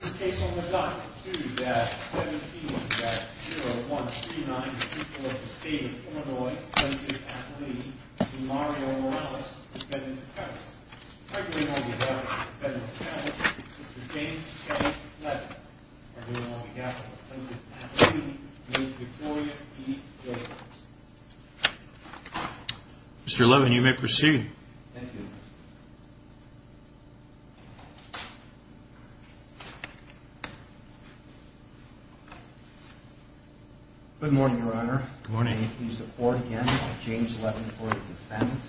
In this case on the dot, 2-17-0139, the people of the state of Illinois, plaintiff and plea, Mr. Mario Morales, defendant to counsel. Arguing on behalf of the defendant's family, Mr. James K. Levin. Arguing on behalf of the plaintiff and plea, Ms. Victoria P. Josephs. Mr. Levin, you may proceed. Thank you. Good morning, Your Honor. Good morning. Please support again, James Levin for the defendant.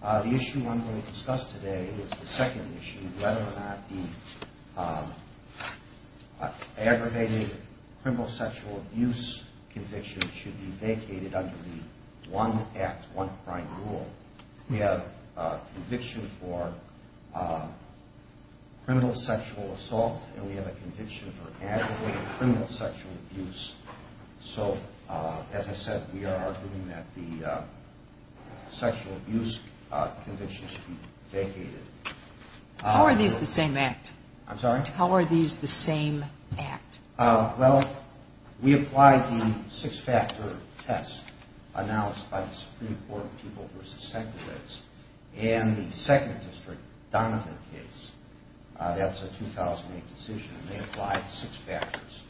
The issue I'm going to discuss today is the second issue, whether or not the aggravated criminal sexual abuse conviction should be vacated under the one act, one crime rule. We have a conviction for criminal sexual assault and we have a conviction for aggravated criminal sexual abuse. So, as I said, we are arguing that the sexual abuse conviction should be vacated. How are these the same act? I'm sorry? How are these the same act? Well, we applied the six-factor test announced by the Supreme Court of People v. Secular Rights and the 2nd District Donovan case. That's a 2008 decision and they applied six factors.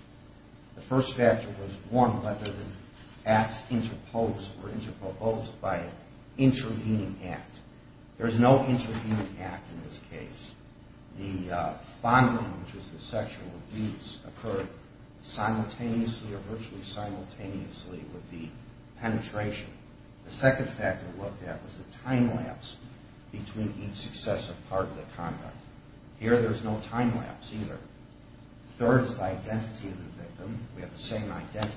The first factor was one, whether the acts interposed were interposed by an intervening act. There is no intervening act in this case. The fondling, which is the sexual abuse, occurred simultaneously or virtually simultaneously with the penetration. The second factor we looked at was the time lapse between each successive part of the conduct. Here there is no time lapse either. The third is the identity of the victim. We have the same identity.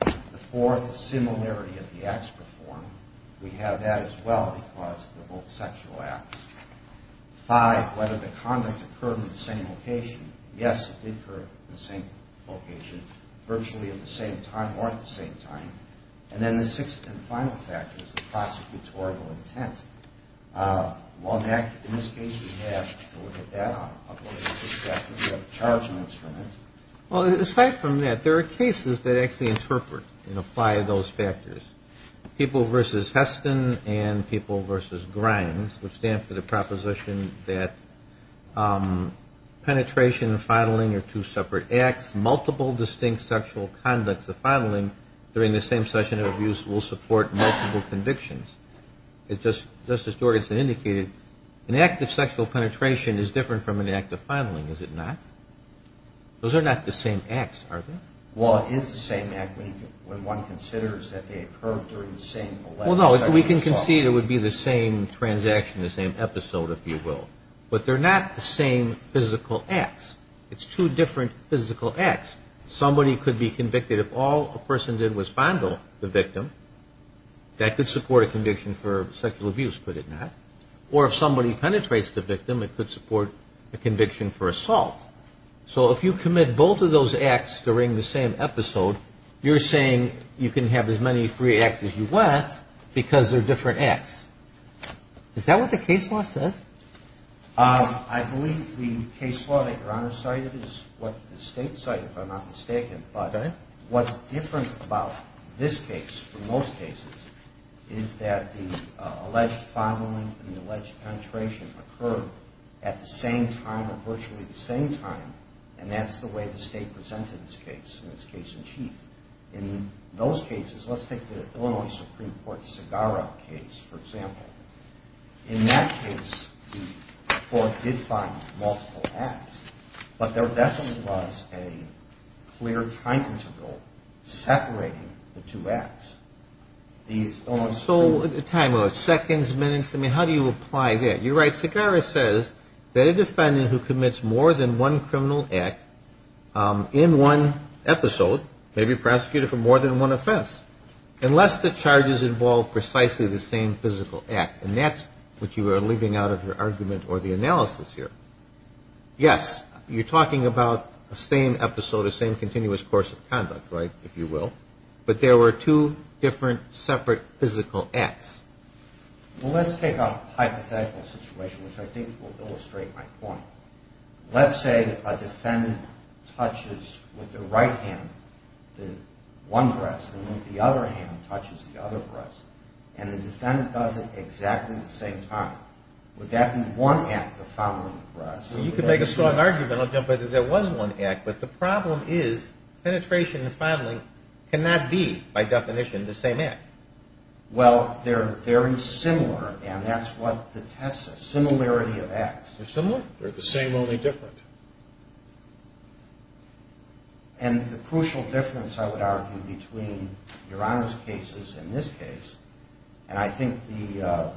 The fourth is similarity of the acts performed. We have that as well because they're both sexual acts. Five, whether the conduct occurred in the same location. Yes, it did occur in the same location virtually at the same time or at the same time. And then the sixth and final factor is the prosecutorial intent. In this case, we have to look at that. We have a charge on that. Aside from that, there are cases that actually interpret and apply those factors. People versus Heston and people versus Grimes, which stands for the proposition that penetration, fondling, are two separate acts. Multiple distinct sexual conducts of fondling during the same session of abuse will support multiple convictions. Just as Jorgenson indicated, an act of sexual penetration is different from an act of fondling, is it not? Those are not the same acts, are they? Well, it is the same act when one considers that they occurred during the same sexual assault. Well, no, we can concede it would be the same transaction, the same episode, if you will. But they're not the same physical acts. It's two different physical acts. Somebody could be convicted if all a person did was fondle the victim. That could support a conviction for sexual abuse, could it not? Or if somebody penetrates the victim, it could support a conviction for assault. So if you commit both of those acts during the same episode, you're saying you can have as many free acts as you want because they're different acts. Is that what the case law says? I believe the case law that Your Honor cited is what the state cited, if I'm not mistaken. But what's different about this case from most cases is that the alleged fondling and the alleged penetration occurred at the same time or virtually the same time, and that's the way the state presented this case in its case-in-chief. In those cases, let's take the Illinois Supreme Court's Segarra case, for example. In that case, the court did find multiple acts, but there definitely was a clear time interval separating the two acts. So time, seconds, minutes, I mean, how do you apply that? You're right, Segarra says that a defendant who commits more than one criminal act in one episode may be prosecuted for more than one offense unless the charges involve precisely the same physical act, and that's what you are leaving out of your argument or the analysis here. Yes, you're talking about the same episode, the same continuous course of conduct, right, if you will, but there were two different separate physical acts. Well, let's take a hypothetical situation, which I think will illustrate my point. Let's say a defendant touches with the right hand one breast and the other hand touches the other breast, and the defendant does it exactly at the same time. Would that be one act of fondling the breast? You could make a strong argument. But the problem is penetration and fondling cannot be, by definition, the same act. Well, they're very similar, and that's what the test says, similarity of acts. They're similar. They're the same, only different. And the crucial difference, I would argue, between Your Honor's cases and this case, and I think the,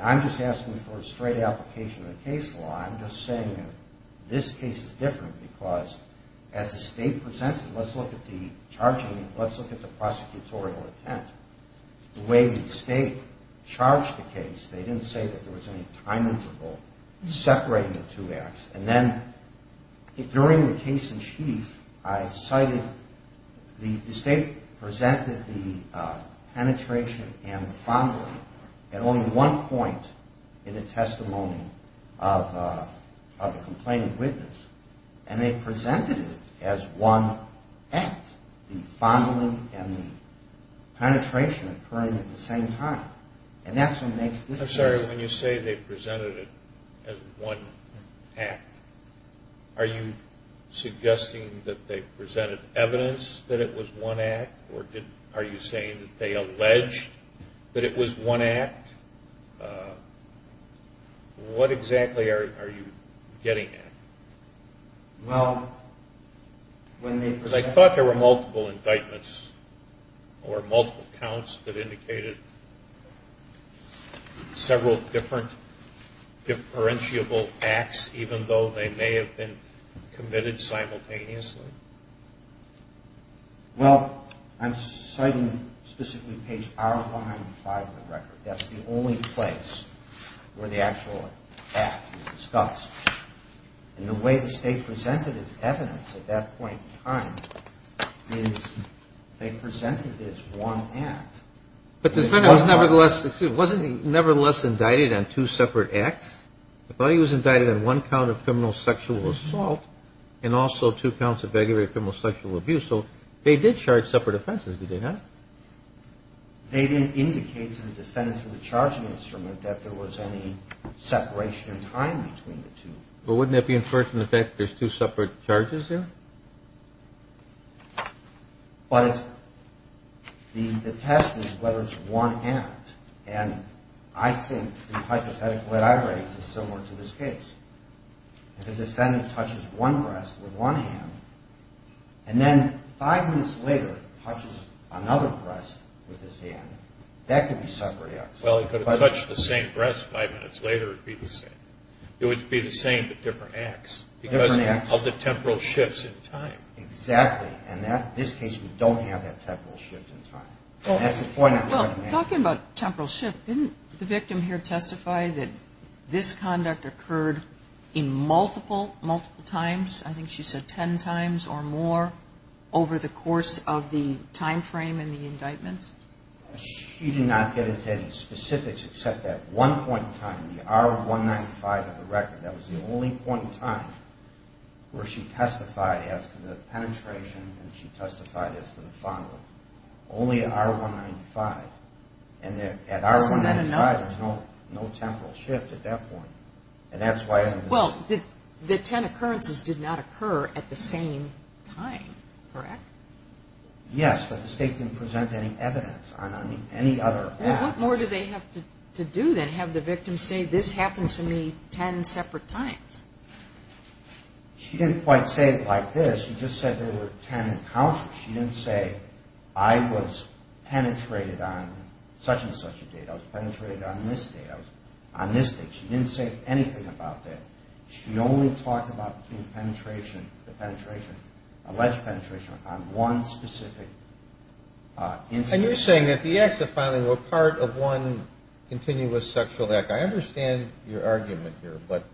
I'm just asking for a straight application of the case law. I'm just saying that this case is different because as the state presents it, let's look at the charging, let's look at the prosecutorial intent. The way the state charged the case, they didn't say that there was any time interval separating the two acts, and then during the case in chief, I cited, the state presented the penetration and the fondling at only one point in the testimony of the complainant witness, and they presented it as one act, the fondling and the penetration occurring at the same time, and that's what makes this case. Your Honor, when you say they presented it as one act, are you suggesting that they presented evidence that it was one act, or are you saying that they alleged that it was one act? What exactly are you getting at? Well, when they presented it. or multiple counts that indicated several different differentiable acts, even though they may have been committed simultaneously? Well, I'm citing specifically page hour 105 of the record. That's the only place where the actual act is discussed, and the way the state presented its evidence at that point in time is they presented it as one act. But the defendant nevertheless, excuse me, wasn't he nevertheless indicted on two separate acts? I thought he was indicted on one count of criminal sexual assault and also two counts of aggravated criminal sexual abuse, so they did charge separate offenses, did they not? They didn't indicate to the defendant through the charging instrument that there was any separation in time between the two. But wouldn't that be inferred from the fact that there's two separate charges there? But the test is whether it's one act, and I think the hypothetical that I raise is similar to this case. If the defendant touches one breast with one hand, and then five minutes later touches another breast with his hand, that could be separate acts. Well, if he could have touched the same breast five minutes later, it would be the same. It would be the same but different acts because of the temporal shifts in time. Exactly, and in this case we don't have that temporal shift in time. Talking about temporal shift, didn't the victim here testify that this conduct occurred in multiple, multiple times? I think she said ten times or more over the course of the time frame and the indictments? She did not get into any specifics except that one point in time, the R195 of the record. That was the only point in time where she testified as to the penetration and she testified as to the following, only at R195. And at R195 there's no temporal shift at that point. Well, the ten occurrences did not occur at the same time, correct? Yes, but the state didn't present any evidence on any other acts. What more did they have to do then, have the victim say this happened to me ten separate times? She didn't quite say it like this. She just said there were ten encounters. She didn't say I was penetrated on such and such a date. I was penetrated on this date. I was on this date. She didn't say anything about that. She only talked about the penetration, alleged penetration on one specific instance. And you're saying that the acts of filing were part of one continuous sexual act. I understand your argument here, but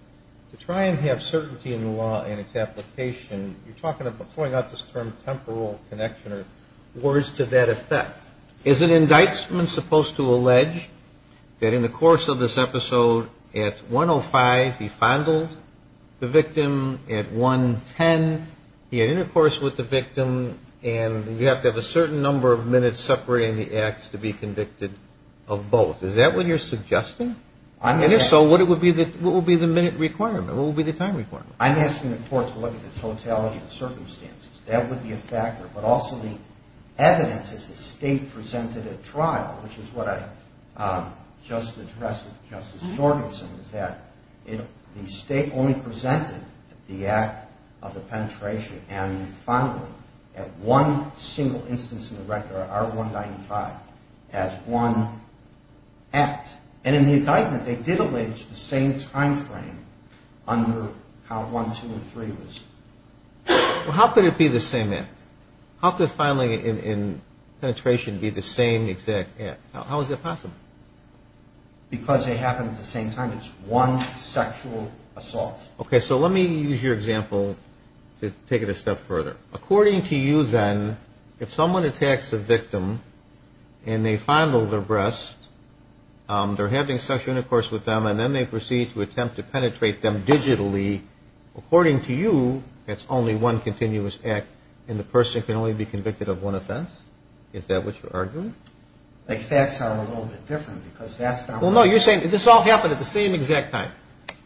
to try and have certainty in the law and its application, you're talking about throwing out this term temporal connection or words to that effect. Is an indictment supposed to allege that in the course of this episode, at 105 he fondled the victim, at 110 he had intercourse with the victim, and you have to have a certain number of minutes separating the acts to be convicted of both? Is that what you're suggesting? And if so, what would be the minute requirement? What would be the time requirement? I'm asking the court to look at the totality of the circumstances. That would be a factor, but also the evidence as the state presented at trial, which is what I just addressed with Justice Jorgensen, is that the state only presented the act of the penetration and the fondling at one single instance in the record, R195, as one act. And in the indictment, they did allege the same time frame under how 1, 2, and 3 was. How could it be the same act? How could filing and penetration be the same exact act? How is that possible? Because they happened at the same time. It's one sexual assault. Okay, so let me use your example to take it a step further. According to you then, if someone attacks a victim and they fondle their breasts, they're having sexual intercourse with them, and then they proceed to attempt to penetrate them digitally, according to you, that's only one continuous act, and the person can only be convicted of one offense? Is that what you're arguing? The facts are a little bit different because that's not what I'm saying. Well, no, you're saying this all happened at the same exact time.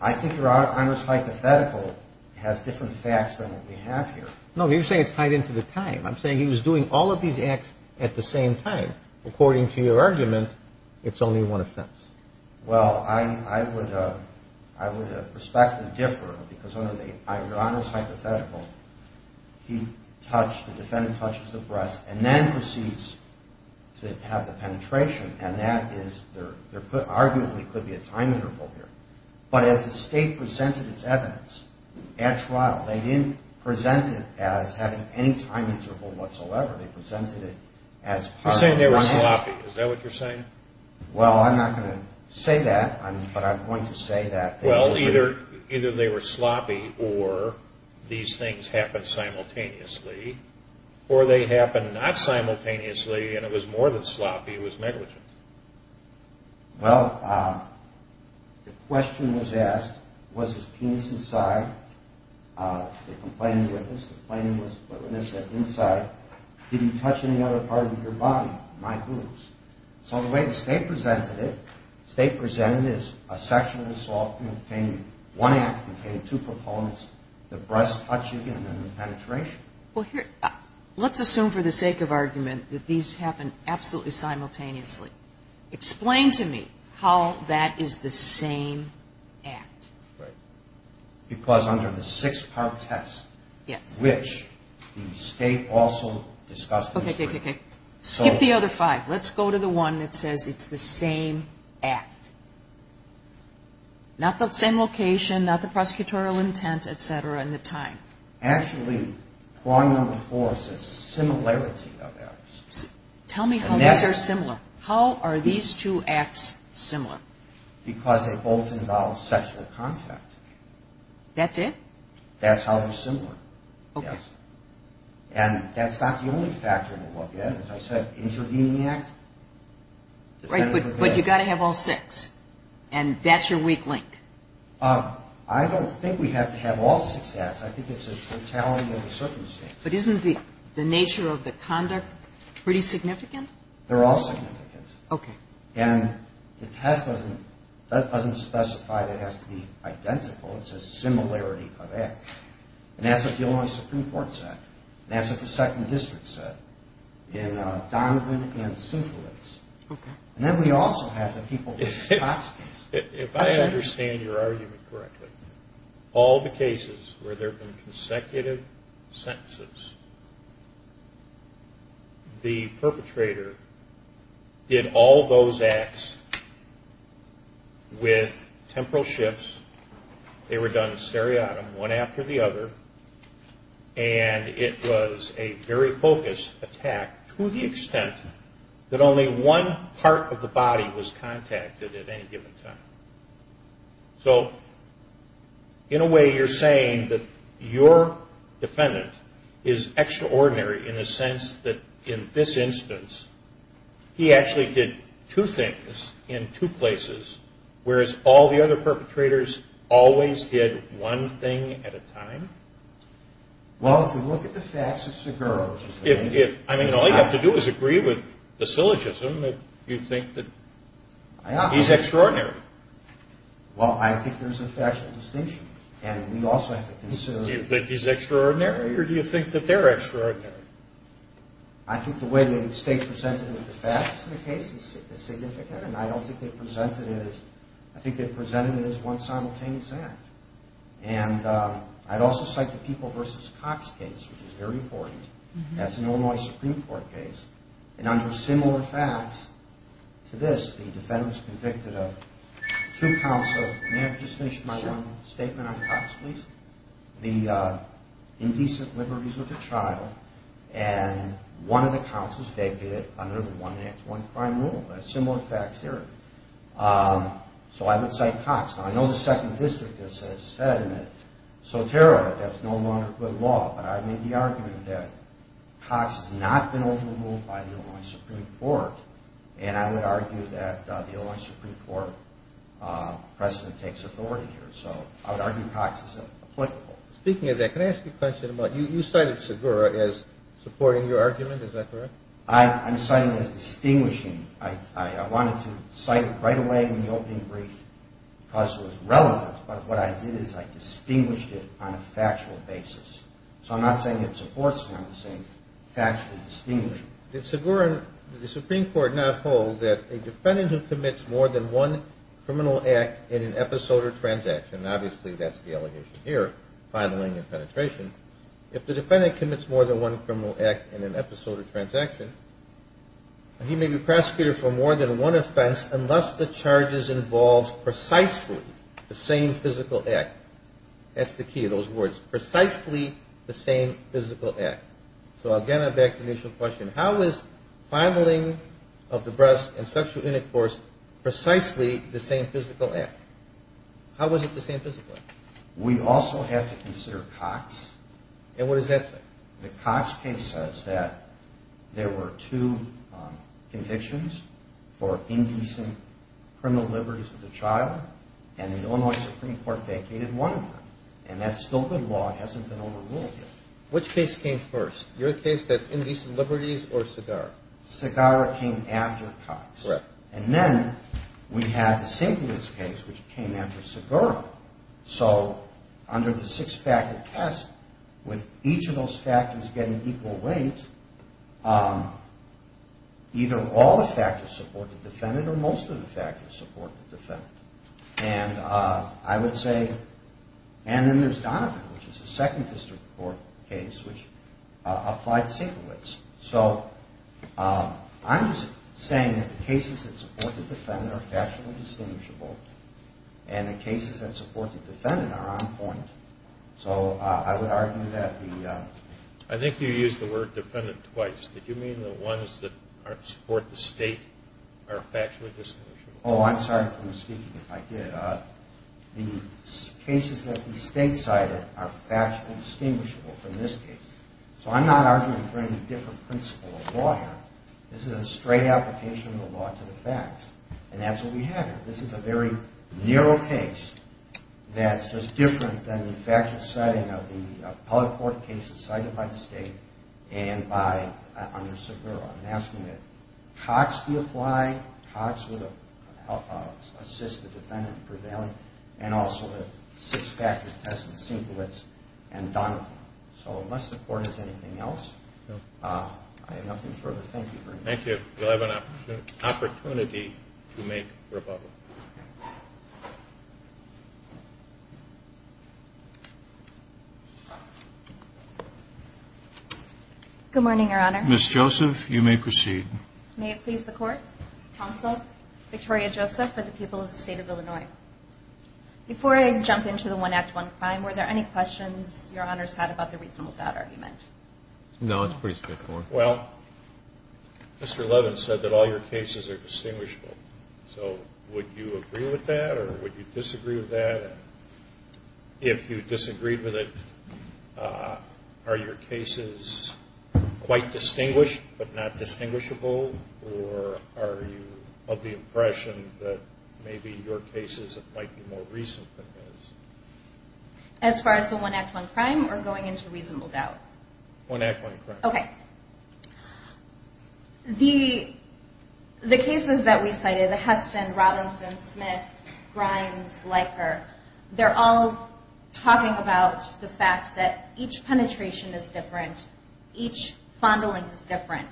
I think your Honor's hypothetical has different facts than what we have here. No, you're saying it's tied into the time. I'm saying he was doing all of these acts at the same time. According to your argument, it's only one offense. Well, I would respectfully differ because under your Honor's hypothetical, the defendant touches the breast and then proceeds to have the penetration, and that arguably could be a time interval here. But as the State presented its evidence at trial, they didn't present it as having any time interval whatsoever. You're saying they were sloppy. Is that what you're saying? Well, I'm not going to say that, but I'm going to say that. Well, either they were sloppy or these things happened simultaneously, or they happened not simultaneously and it was more than sloppy, it was negligent. Well, the question was asked, was his penis inside? The complaining witness, the complaining witness said, inside, did he touch any other part of your body, my boobs? So the way the State presented it, the State presented it as a section of this law containing one act, containing two proponents, the breast touching and then the penetration. Well, let's assume for the sake of argument that these happened absolutely simultaneously. Explain to me how that is the same act. Because under the six-part test, which the State also discussed. Okay, okay, okay. Skip the other five. Let's go to the one that says it's the same act. Not the same location, not the prosecutorial intent, et cetera, and the time. Actually, prong number four says similarity of acts. Tell me how these are similar. How are these two acts similar? Because they both involve sexual contact. That's it? That's how they're similar, yes. And that's not the only factor in the law. Again, as I said, intervening act. Right, but you've got to have all six and that's your weak link. I don't think we have to have all six acts. I think it's a totality of the circumstances. But isn't the nature of the conduct pretty significant? They're all significant. Okay. And the test doesn't specify that it has to be identical. It says similarity of acts. And that's what the Illinois Supreme Court said. And that's what the Second District said in Donovan and Southalis. Okay. And then we also have the people versus Cox case. If I understand your argument correctly, all the cases where there have been consecutive sentences, the perpetrator did all those acts with temporal shifts. They were done seriatim, one after the other. And it was a very focused attack to the extent that only one part of the body was contacted at any given time. So in a way, you're saying that your defendant is extraordinary in a sense that, in this instance, he actually did two things in two places, whereas all the other perpetrators always did one thing at a time? Well, if you look at the facts, it's a girl. I mean, all you have to do is agree with the syllogism that you think that he's extraordinary. Well, I think there's a factual distinction. And we also have to consider… Do you think he's extraordinary, or do you think that they're extraordinary? I think the way the state presented the facts in the case is significant, and I don't think they presented it as – I think they presented it as one simultaneous act. And I'd also cite the people versus Cox case, which is very important. That's an Illinois Supreme Court case. And under similar facts to this, the defendant was convicted of two counts of – may I just finish my one statement on Cox, please? The indecent liberties with a child, and one of the counts was vacated under the one-man-to-one-crime rule, a similar fact theory. So I would cite Cox. Now, I know the Second District has said that, so terribly, that's no longer good law. But I made the argument that Cox has not been overruled by the Illinois Supreme Court, and I would argue that the Illinois Supreme Court precedent takes authority here. So I would argue Cox is applicable. Speaking of that, can I ask you a question about – you cited Segura as supporting your argument, is that correct? I'm citing as distinguishing. I wanted to cite it right away in the opening brief because it was relevant, but what I did is I distinguished it on a factual basis. So I'm not saying it supports now the same factual distinguishing. Did Segura – did the Supreme Court not hold that a defendant who commits more than one criminal act in an episode or transaction – obviously, that's the allegation here, filing and penetration – if the defendant commits more than one criminal act in an episode or transaction, he may be prosecuted for more than one offense unless the charges involve precisely the same physical act. That's the key, those words, precisely the same physical act. So again, I back the initial question. How is filing of the breast and sexual intercourse precisely the same physical act? How is it the same physical act? We also have to consider Cox. And what does that say? The Cox case says that there were two convictions for indecent criminal liberties with a child, and the Illinois Supreme Court vacated one of them. And that's still good law. It hasn't been overruled yet. Which case came first? Your case, the indecent liberties, or Segura? Segura came after Cox. Correct. And then we have the Simpkins case, which came after Segura. So under the six-factor test, with each of those factors getting equal weight, either all the factors support the defendant or most of the factors support the defendant. And I would say, and then there's Donovan, which is the second district court case, which applied Sinkowitz. So I'm just saying that the cases that support the defendant are factually distinguishable, and the cases that support the defendant are on point. So I would argue that the ‑‑ I think you used the word defendant twice. Did you mean the ones that support the state are factually distinguishable? Oh, I'm sorry for misspeaking if I did. The cases that the state cited are factually distinguishable from this case. So I'm not arguing for any different principle of law here. This is a straight application of the law to the facts, and that's what we have here. This is a very narrow case that's just different than the factual setting of the state, and by under Saguaro. I'm asking that Cox be applied, Cox would assist the defendant in prevailing, and also the six-factor test with Sinkowitz and Donovan. So unless the court has anything else, I have nothing further. Thank you very much. Thank you. You'll have an opportunity to make rebuttal. Good morning, Your Honor. Ms. Joseph, you may proceed. May it please the court. Counsel Victoria Joseph for the people of the state of Illinois. Before I jump into the one act, one crime, were there any questions Your Honor's had about the reasonable doubt argument? No, it's pretty straightforward. Well, Mr. Levin said that all your cases are distinguishable. So would you agree with that, or would you disagree with that? If you disagreed with it, are your cases quite distinguished but not distinguishable, or are you of the impression that maybe your cases might be more reasonable than his? As far as the one act, one crime, or going into reasonable doubt? One act, one crime. Okay. The cases that we cited, the Heston, Robinson, Smith, Grimes, Leiker, they're all talking about the fact that each penetration is different, each fondling is different.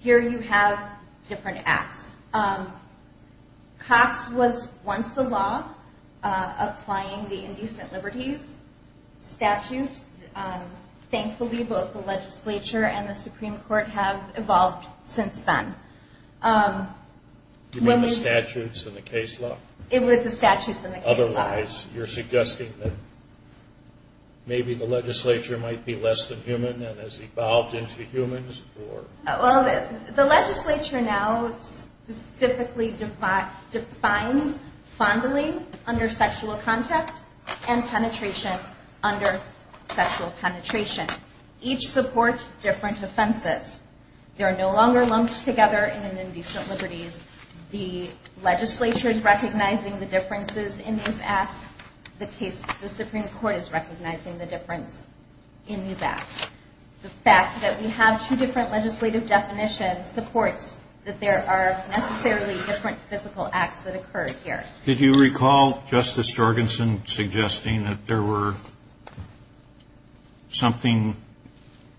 Here you have different acts. Cox was once the law applying the Indecent Liberties Statute. Thankfully, both the legislature and the Supreme Court have evolved since then. You mean the statutes and the case law? It was the statutes and the case law. Otherwise, you're suggesting that maybe the legislature might be less than human and has evolved into humans? Well, the legislature now specifically defines fondling under sexual contact and penetration under sexual penetration. Each supports different offenses. They are no longer lumped together in an Indecent Liberties. The legislature is recognizing the differences in these acts. The Supreme Court is recognizing the difference in these acts. The fact that we have two different legislative definitions supports that there are necessarily different physical acts that occur here. Did you recall Justice Jorgensen suggesting that there were something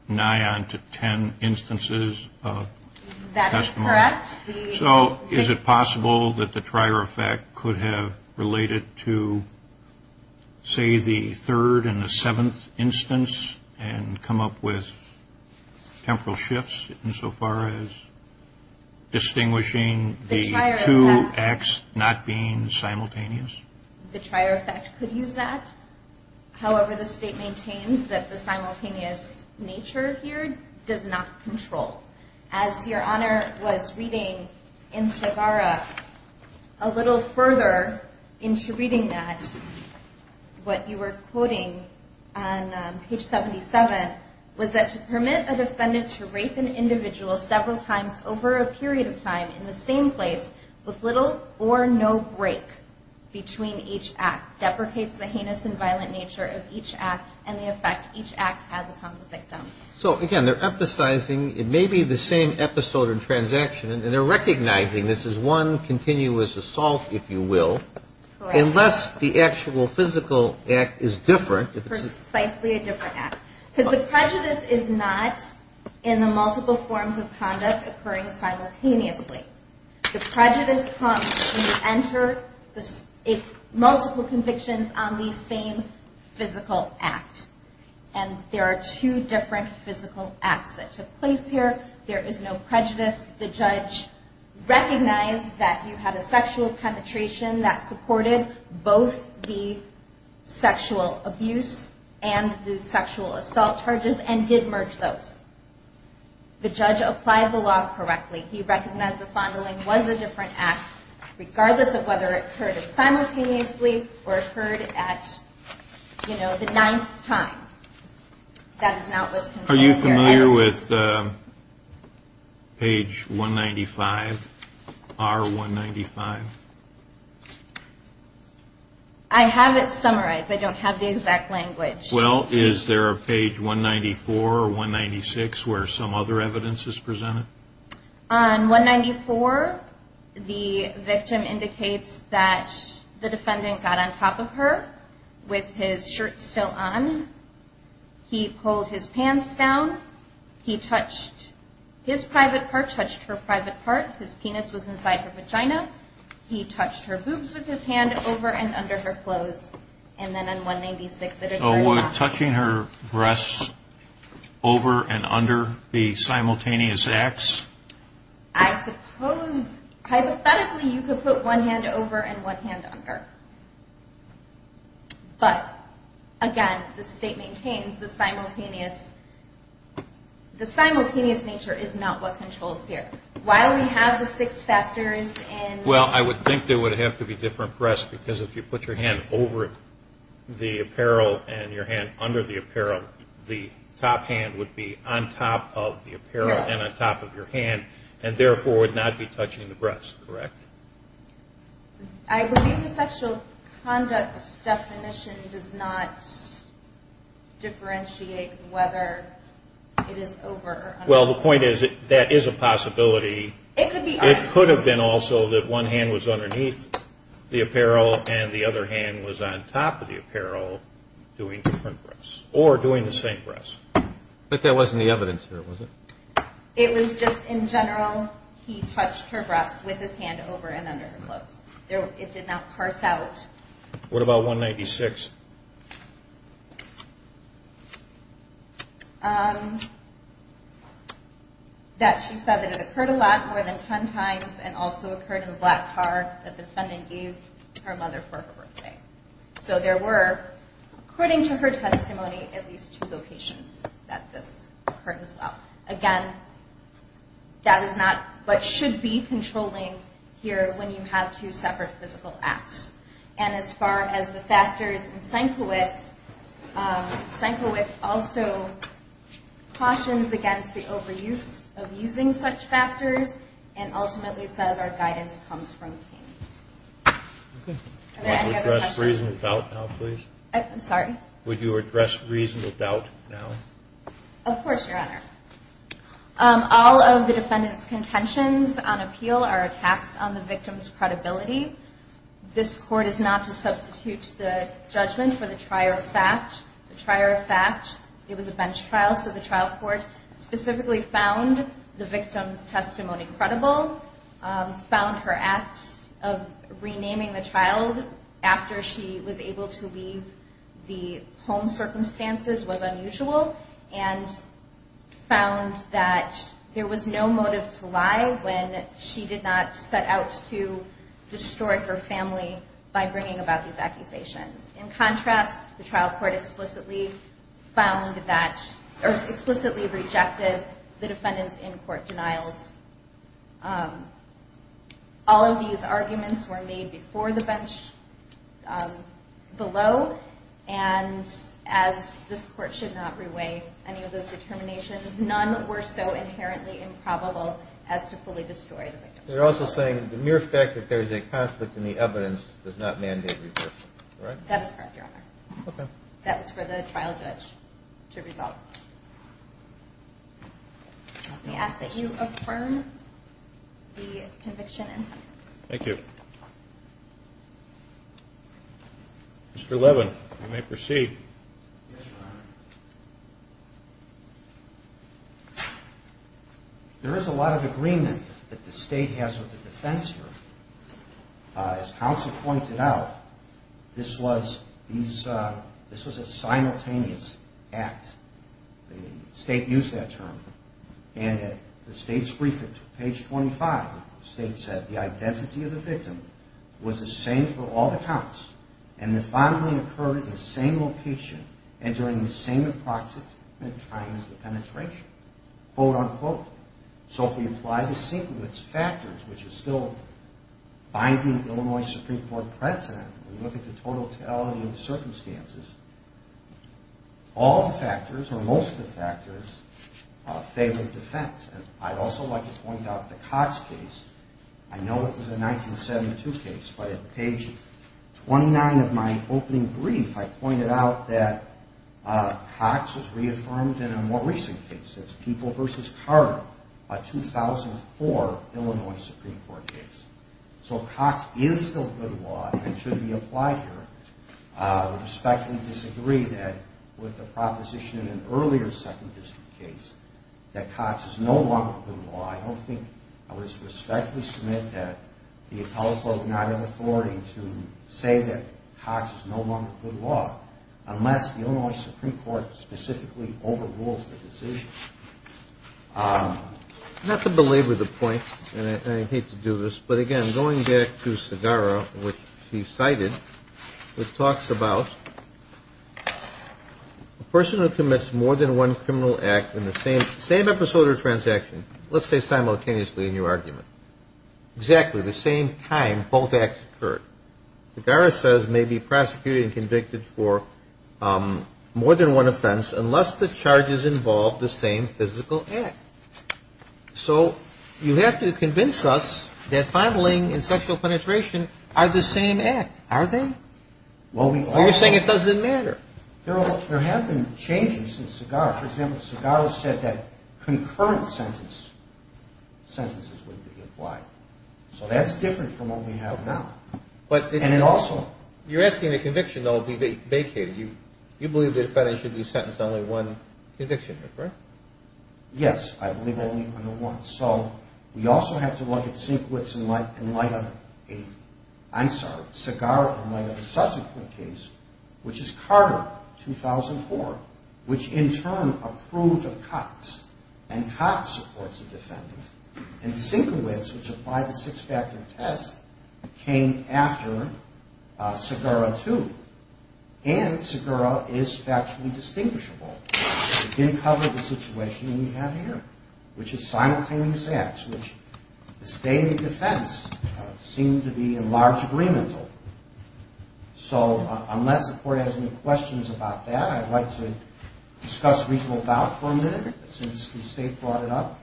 nigh on to ten instances of testimony? That is correct. So is it possible that the trier effect could have related to, say, the third and the seventh instance and come up with temporal shifts insofar as distinguishing the two acts not being simultaneous? The trier effect could use that. However, the state maintains that the simultaneous nature here does not control. As Your Honor was reading in Sagara a little further into reading that, what you were quoting on page 77 was that, to permit a defendant to rape an individual several times over a period of time in the same place with little or no break between each act deprecates the heinous and violent nature of each act and the effect each act has upon the victim. So, again, they're emphasizing it may be the same episode or transaction, and they're recognizing this is one continuous assault, if you will, unless the actual physical act is different. Precisely a different act. Because the prejudice is not in the multiple forms of conduct occurring simultaneously. The prejudice comes when you enter multiple convictions on the same physical act. And there are two different physical acts that took place here. There is no prejudice. The judge recognized that you had a sexual penetration that supported both the sexual abuse and the sexual assault charges and did merge those. The judge applied the law correctly. He recognized the fondling was a different act, regardless of whether it occurred simultaneously or occurred at the ninth time. Are you familiar with page 195, R195? I have it summarized. I don't have the exact language. Well, is there a page 194 or 196 where some other evidence is presented? On 194, the victim indicates that the defendant got on top of her with his shirt still on. He pulled his pants down. He touched his private part, touched her private part. His penis was inside her vagina. He touched her boobs with his hand over and under her clothes. So would touching her breasts over and under be simultaneous acts? I suppose hypothetically you could put one hand over and one hand under. But, again, the state maintains the simultaneous nature is not what controls here. Why do we have the six factors? Well, I would think there would have to be different breasts because if you put your hand over the apparel and your hand under the apparel, the top hand would be on top of the apparel and on top of your hand and, therefore, would not be touching the breasts, correct? I believe the sexual conduct definition does not differentiate whether it is over or under. Well, the point is that that is a possibility. It could have been also that one hand was underneath the apparel and the other hand was on top of the apparel doing different breasts or doing the same breasts. But that wasn't the evidence here, was it? It was just in general he touched her breasts with his hand over and under her clothes. It did not parse out. What about 196? That she said that it occurred a lot, more than 10 times, and also occurred in a black car that the defendant gave her mother for her birthday. So there were, according to her testimony, at least two locations that this occurred as well. Again, that is not what should be controlling here when you have two separate physical acts. And as far as the factors in Senkiewicz, Senkiewicz also cautions against the overuse of using such factors and ultimately says our guidance comes from pain. Are there any other questions? Would you address reasonable doubt now, please? I'm sorry? Would you address reasonable doubt now? Of course, Your Honor. All of the defendant's contentions on appeal are attacks on the victim's credibility. This court is not to substitute the judgment for the trier of fact. The trier of fact, it was a bench trial, so the trial court specifically found the victim's testimony credible, found her act of renaming the child after she was able to leave the home circumstances was unusual, and found that there was no motive to lie when she did not set out to destroy her family by bringing about these accusations. In contrast, the trial court explicitly found that, or explicitly rejected the defendant's in-court denials. All of these arguments were made before the bench below, and as this court should not reweigh any of those determinations, none were so inherently improbable as to fully destroy the victim. You're also saying the mere fact that there is a conflict in the evidence does not mandate recursion, right? That is correct, Your Honor. Okay. That was for the trial judge to resolve. Let me ask that you affirm the conviction and sentence. Thank you. Mr. Levin, you may proceed. Yes, Your Honor. There is a lot of agreement that the State has with the defense here. As counsel pointed out, this was a simultaneous act. The State used that term, and the State's brief, page 25, the State said the identity of the victim was the same for all the counts, and it finally occurred in the same location and during the same approximate times of penetration, quote, unquote. So if we apply the sequence factors, which is still binding Illinois Supreme Court precedent, we look at the totality of the circumstances, all the factors, or most of the factors, favor defense. And I'd also like to point out the Cox case. I know it was a 1972 case, but at page 29 of my opening brief, I pointed out that Cox was reaffirmed in a more recent case. It's People v. Carter, a 2004 Illinois Supreme Court case. So Cox is still good law and should be applied here. I respectfully disagree that with the proposition in an earlier Second District case that Cox is no longer good law. I don't think I would respectfully submit that the appellate court not have authority to say that Cox is no longer good law unless the Illinois Supreme Court specifically overrules the decision. Not to belabor the point, and I hate to do this, but, again, going back to Segarra, which she cited, which talks about a person who commits more than one criminal act in the same episode or transaction, let's say simultaneously in your argument, exactly the same time both acts occurred. Segarra says may be prosecuted and convicted for more than one offense unless the charges involve the same physical act. So you have to convince us that filing and sexual penetration are the same act, are they? You're saying it doesn't matter. There have been changes since Segarra. For example, Segarra said that concurrent sentences would be applied. So that's different from what we have now. And it also – You're asking the conviction, though, be vacated. You believe the defendant should be sentenced to only one conviction, correct? Yes, I believe only under one. So we also have to look at Segarra in light of a subsequent case, which is Carter, 2004, which in turn approved of Cox, and Cox supports the defendant. And Segarra, which applied the six-factor test, came after Segarra too. And Segarra is factually distinguishable. It didn't cover the situation we have here, which is simultaneous acts, which the State and the defense seem to be in large agreement. So unless the Court has any questions about that, I'd like to discuss reasonable doubt for a minute, since the State brought it up.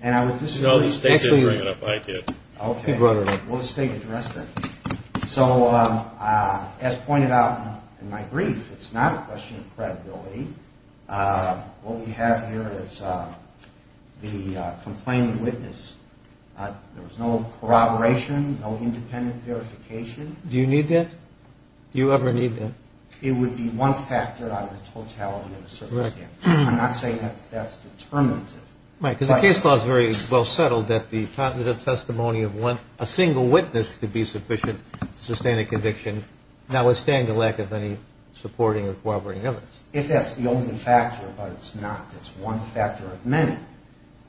And I would disagree – No, the State didn't bring it up. I did. Okay. Well, the State addressed it. So as pointed out in my brief, it's not a question of credibility. What we have here is the complaining witness. There was no corroboration, no independent verification. Do you need that? Do you ever need that? It would be one factor out of the totality of the circumstance. Correct. I'm not saying that's determinative. Mike, because the case law is very well settled that the cognitive testimony of a single witness could be sufficient to sustain a conviction, notwithstanding the lack of any supporting or corroborating evidence. If that's the only factor, but it's not. It's one factor of many.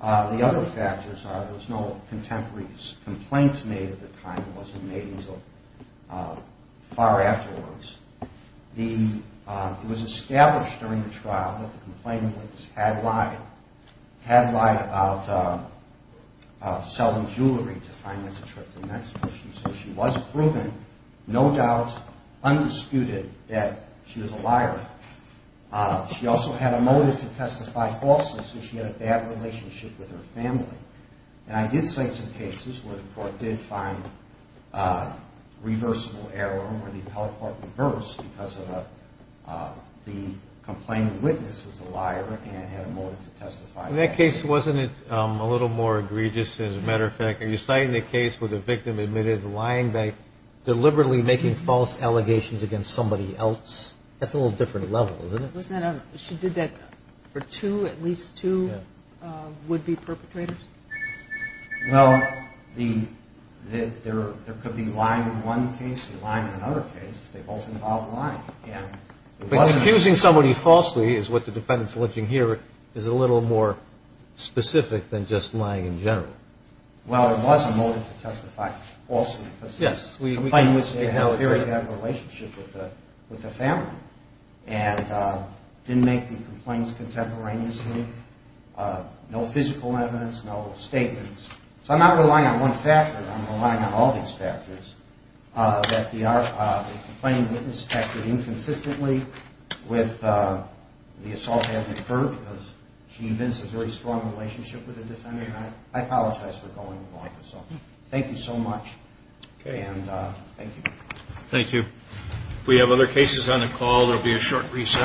The other factors are there's no contemporary complaints made at the time. It wasn't made until far afterwards. It was established during the trial that the complaining witness had lied, had lied about selling jewelry to finance a trip to Mexico. So she was proven, no doubt, undisputed that she was a liar. She also had a motive to testify falsely, so she had a bad relationship with her family. And I did cite some cases where the court did find reversible error, where the appellate court reversed because the complaining witness was a liar and had a motive to testify. In that case, wasn't it a little more egregious, as a matter of fact? Are you citing a case where the victim admitted lying by deliberately making false allegations against somebody else? That's a little different level, isn't it? She did that for two, at least two would-be perpetrators. Well, there could be lying in one case and lying in another case. They both involved lying. But accusing somebody falsely is what the defendant is alleging here, is a little more specific than just lying in general. Well, there was a motive to testify falsely. Yes. The complaining witness had a very bad relationship with the family and didn't make the complaints contemporaneously, no physical evidence, no statements. So I'm not relying on one factor, I'm relying on all these factors, that the complaining witness acted inconsistently with the assault having occurred because she invents a very strong relationship with the defendant. And I apologize for going along with this. So thank you so much. Okay. And thank you. Thank you. We have other cases on the call. There will be a short recess.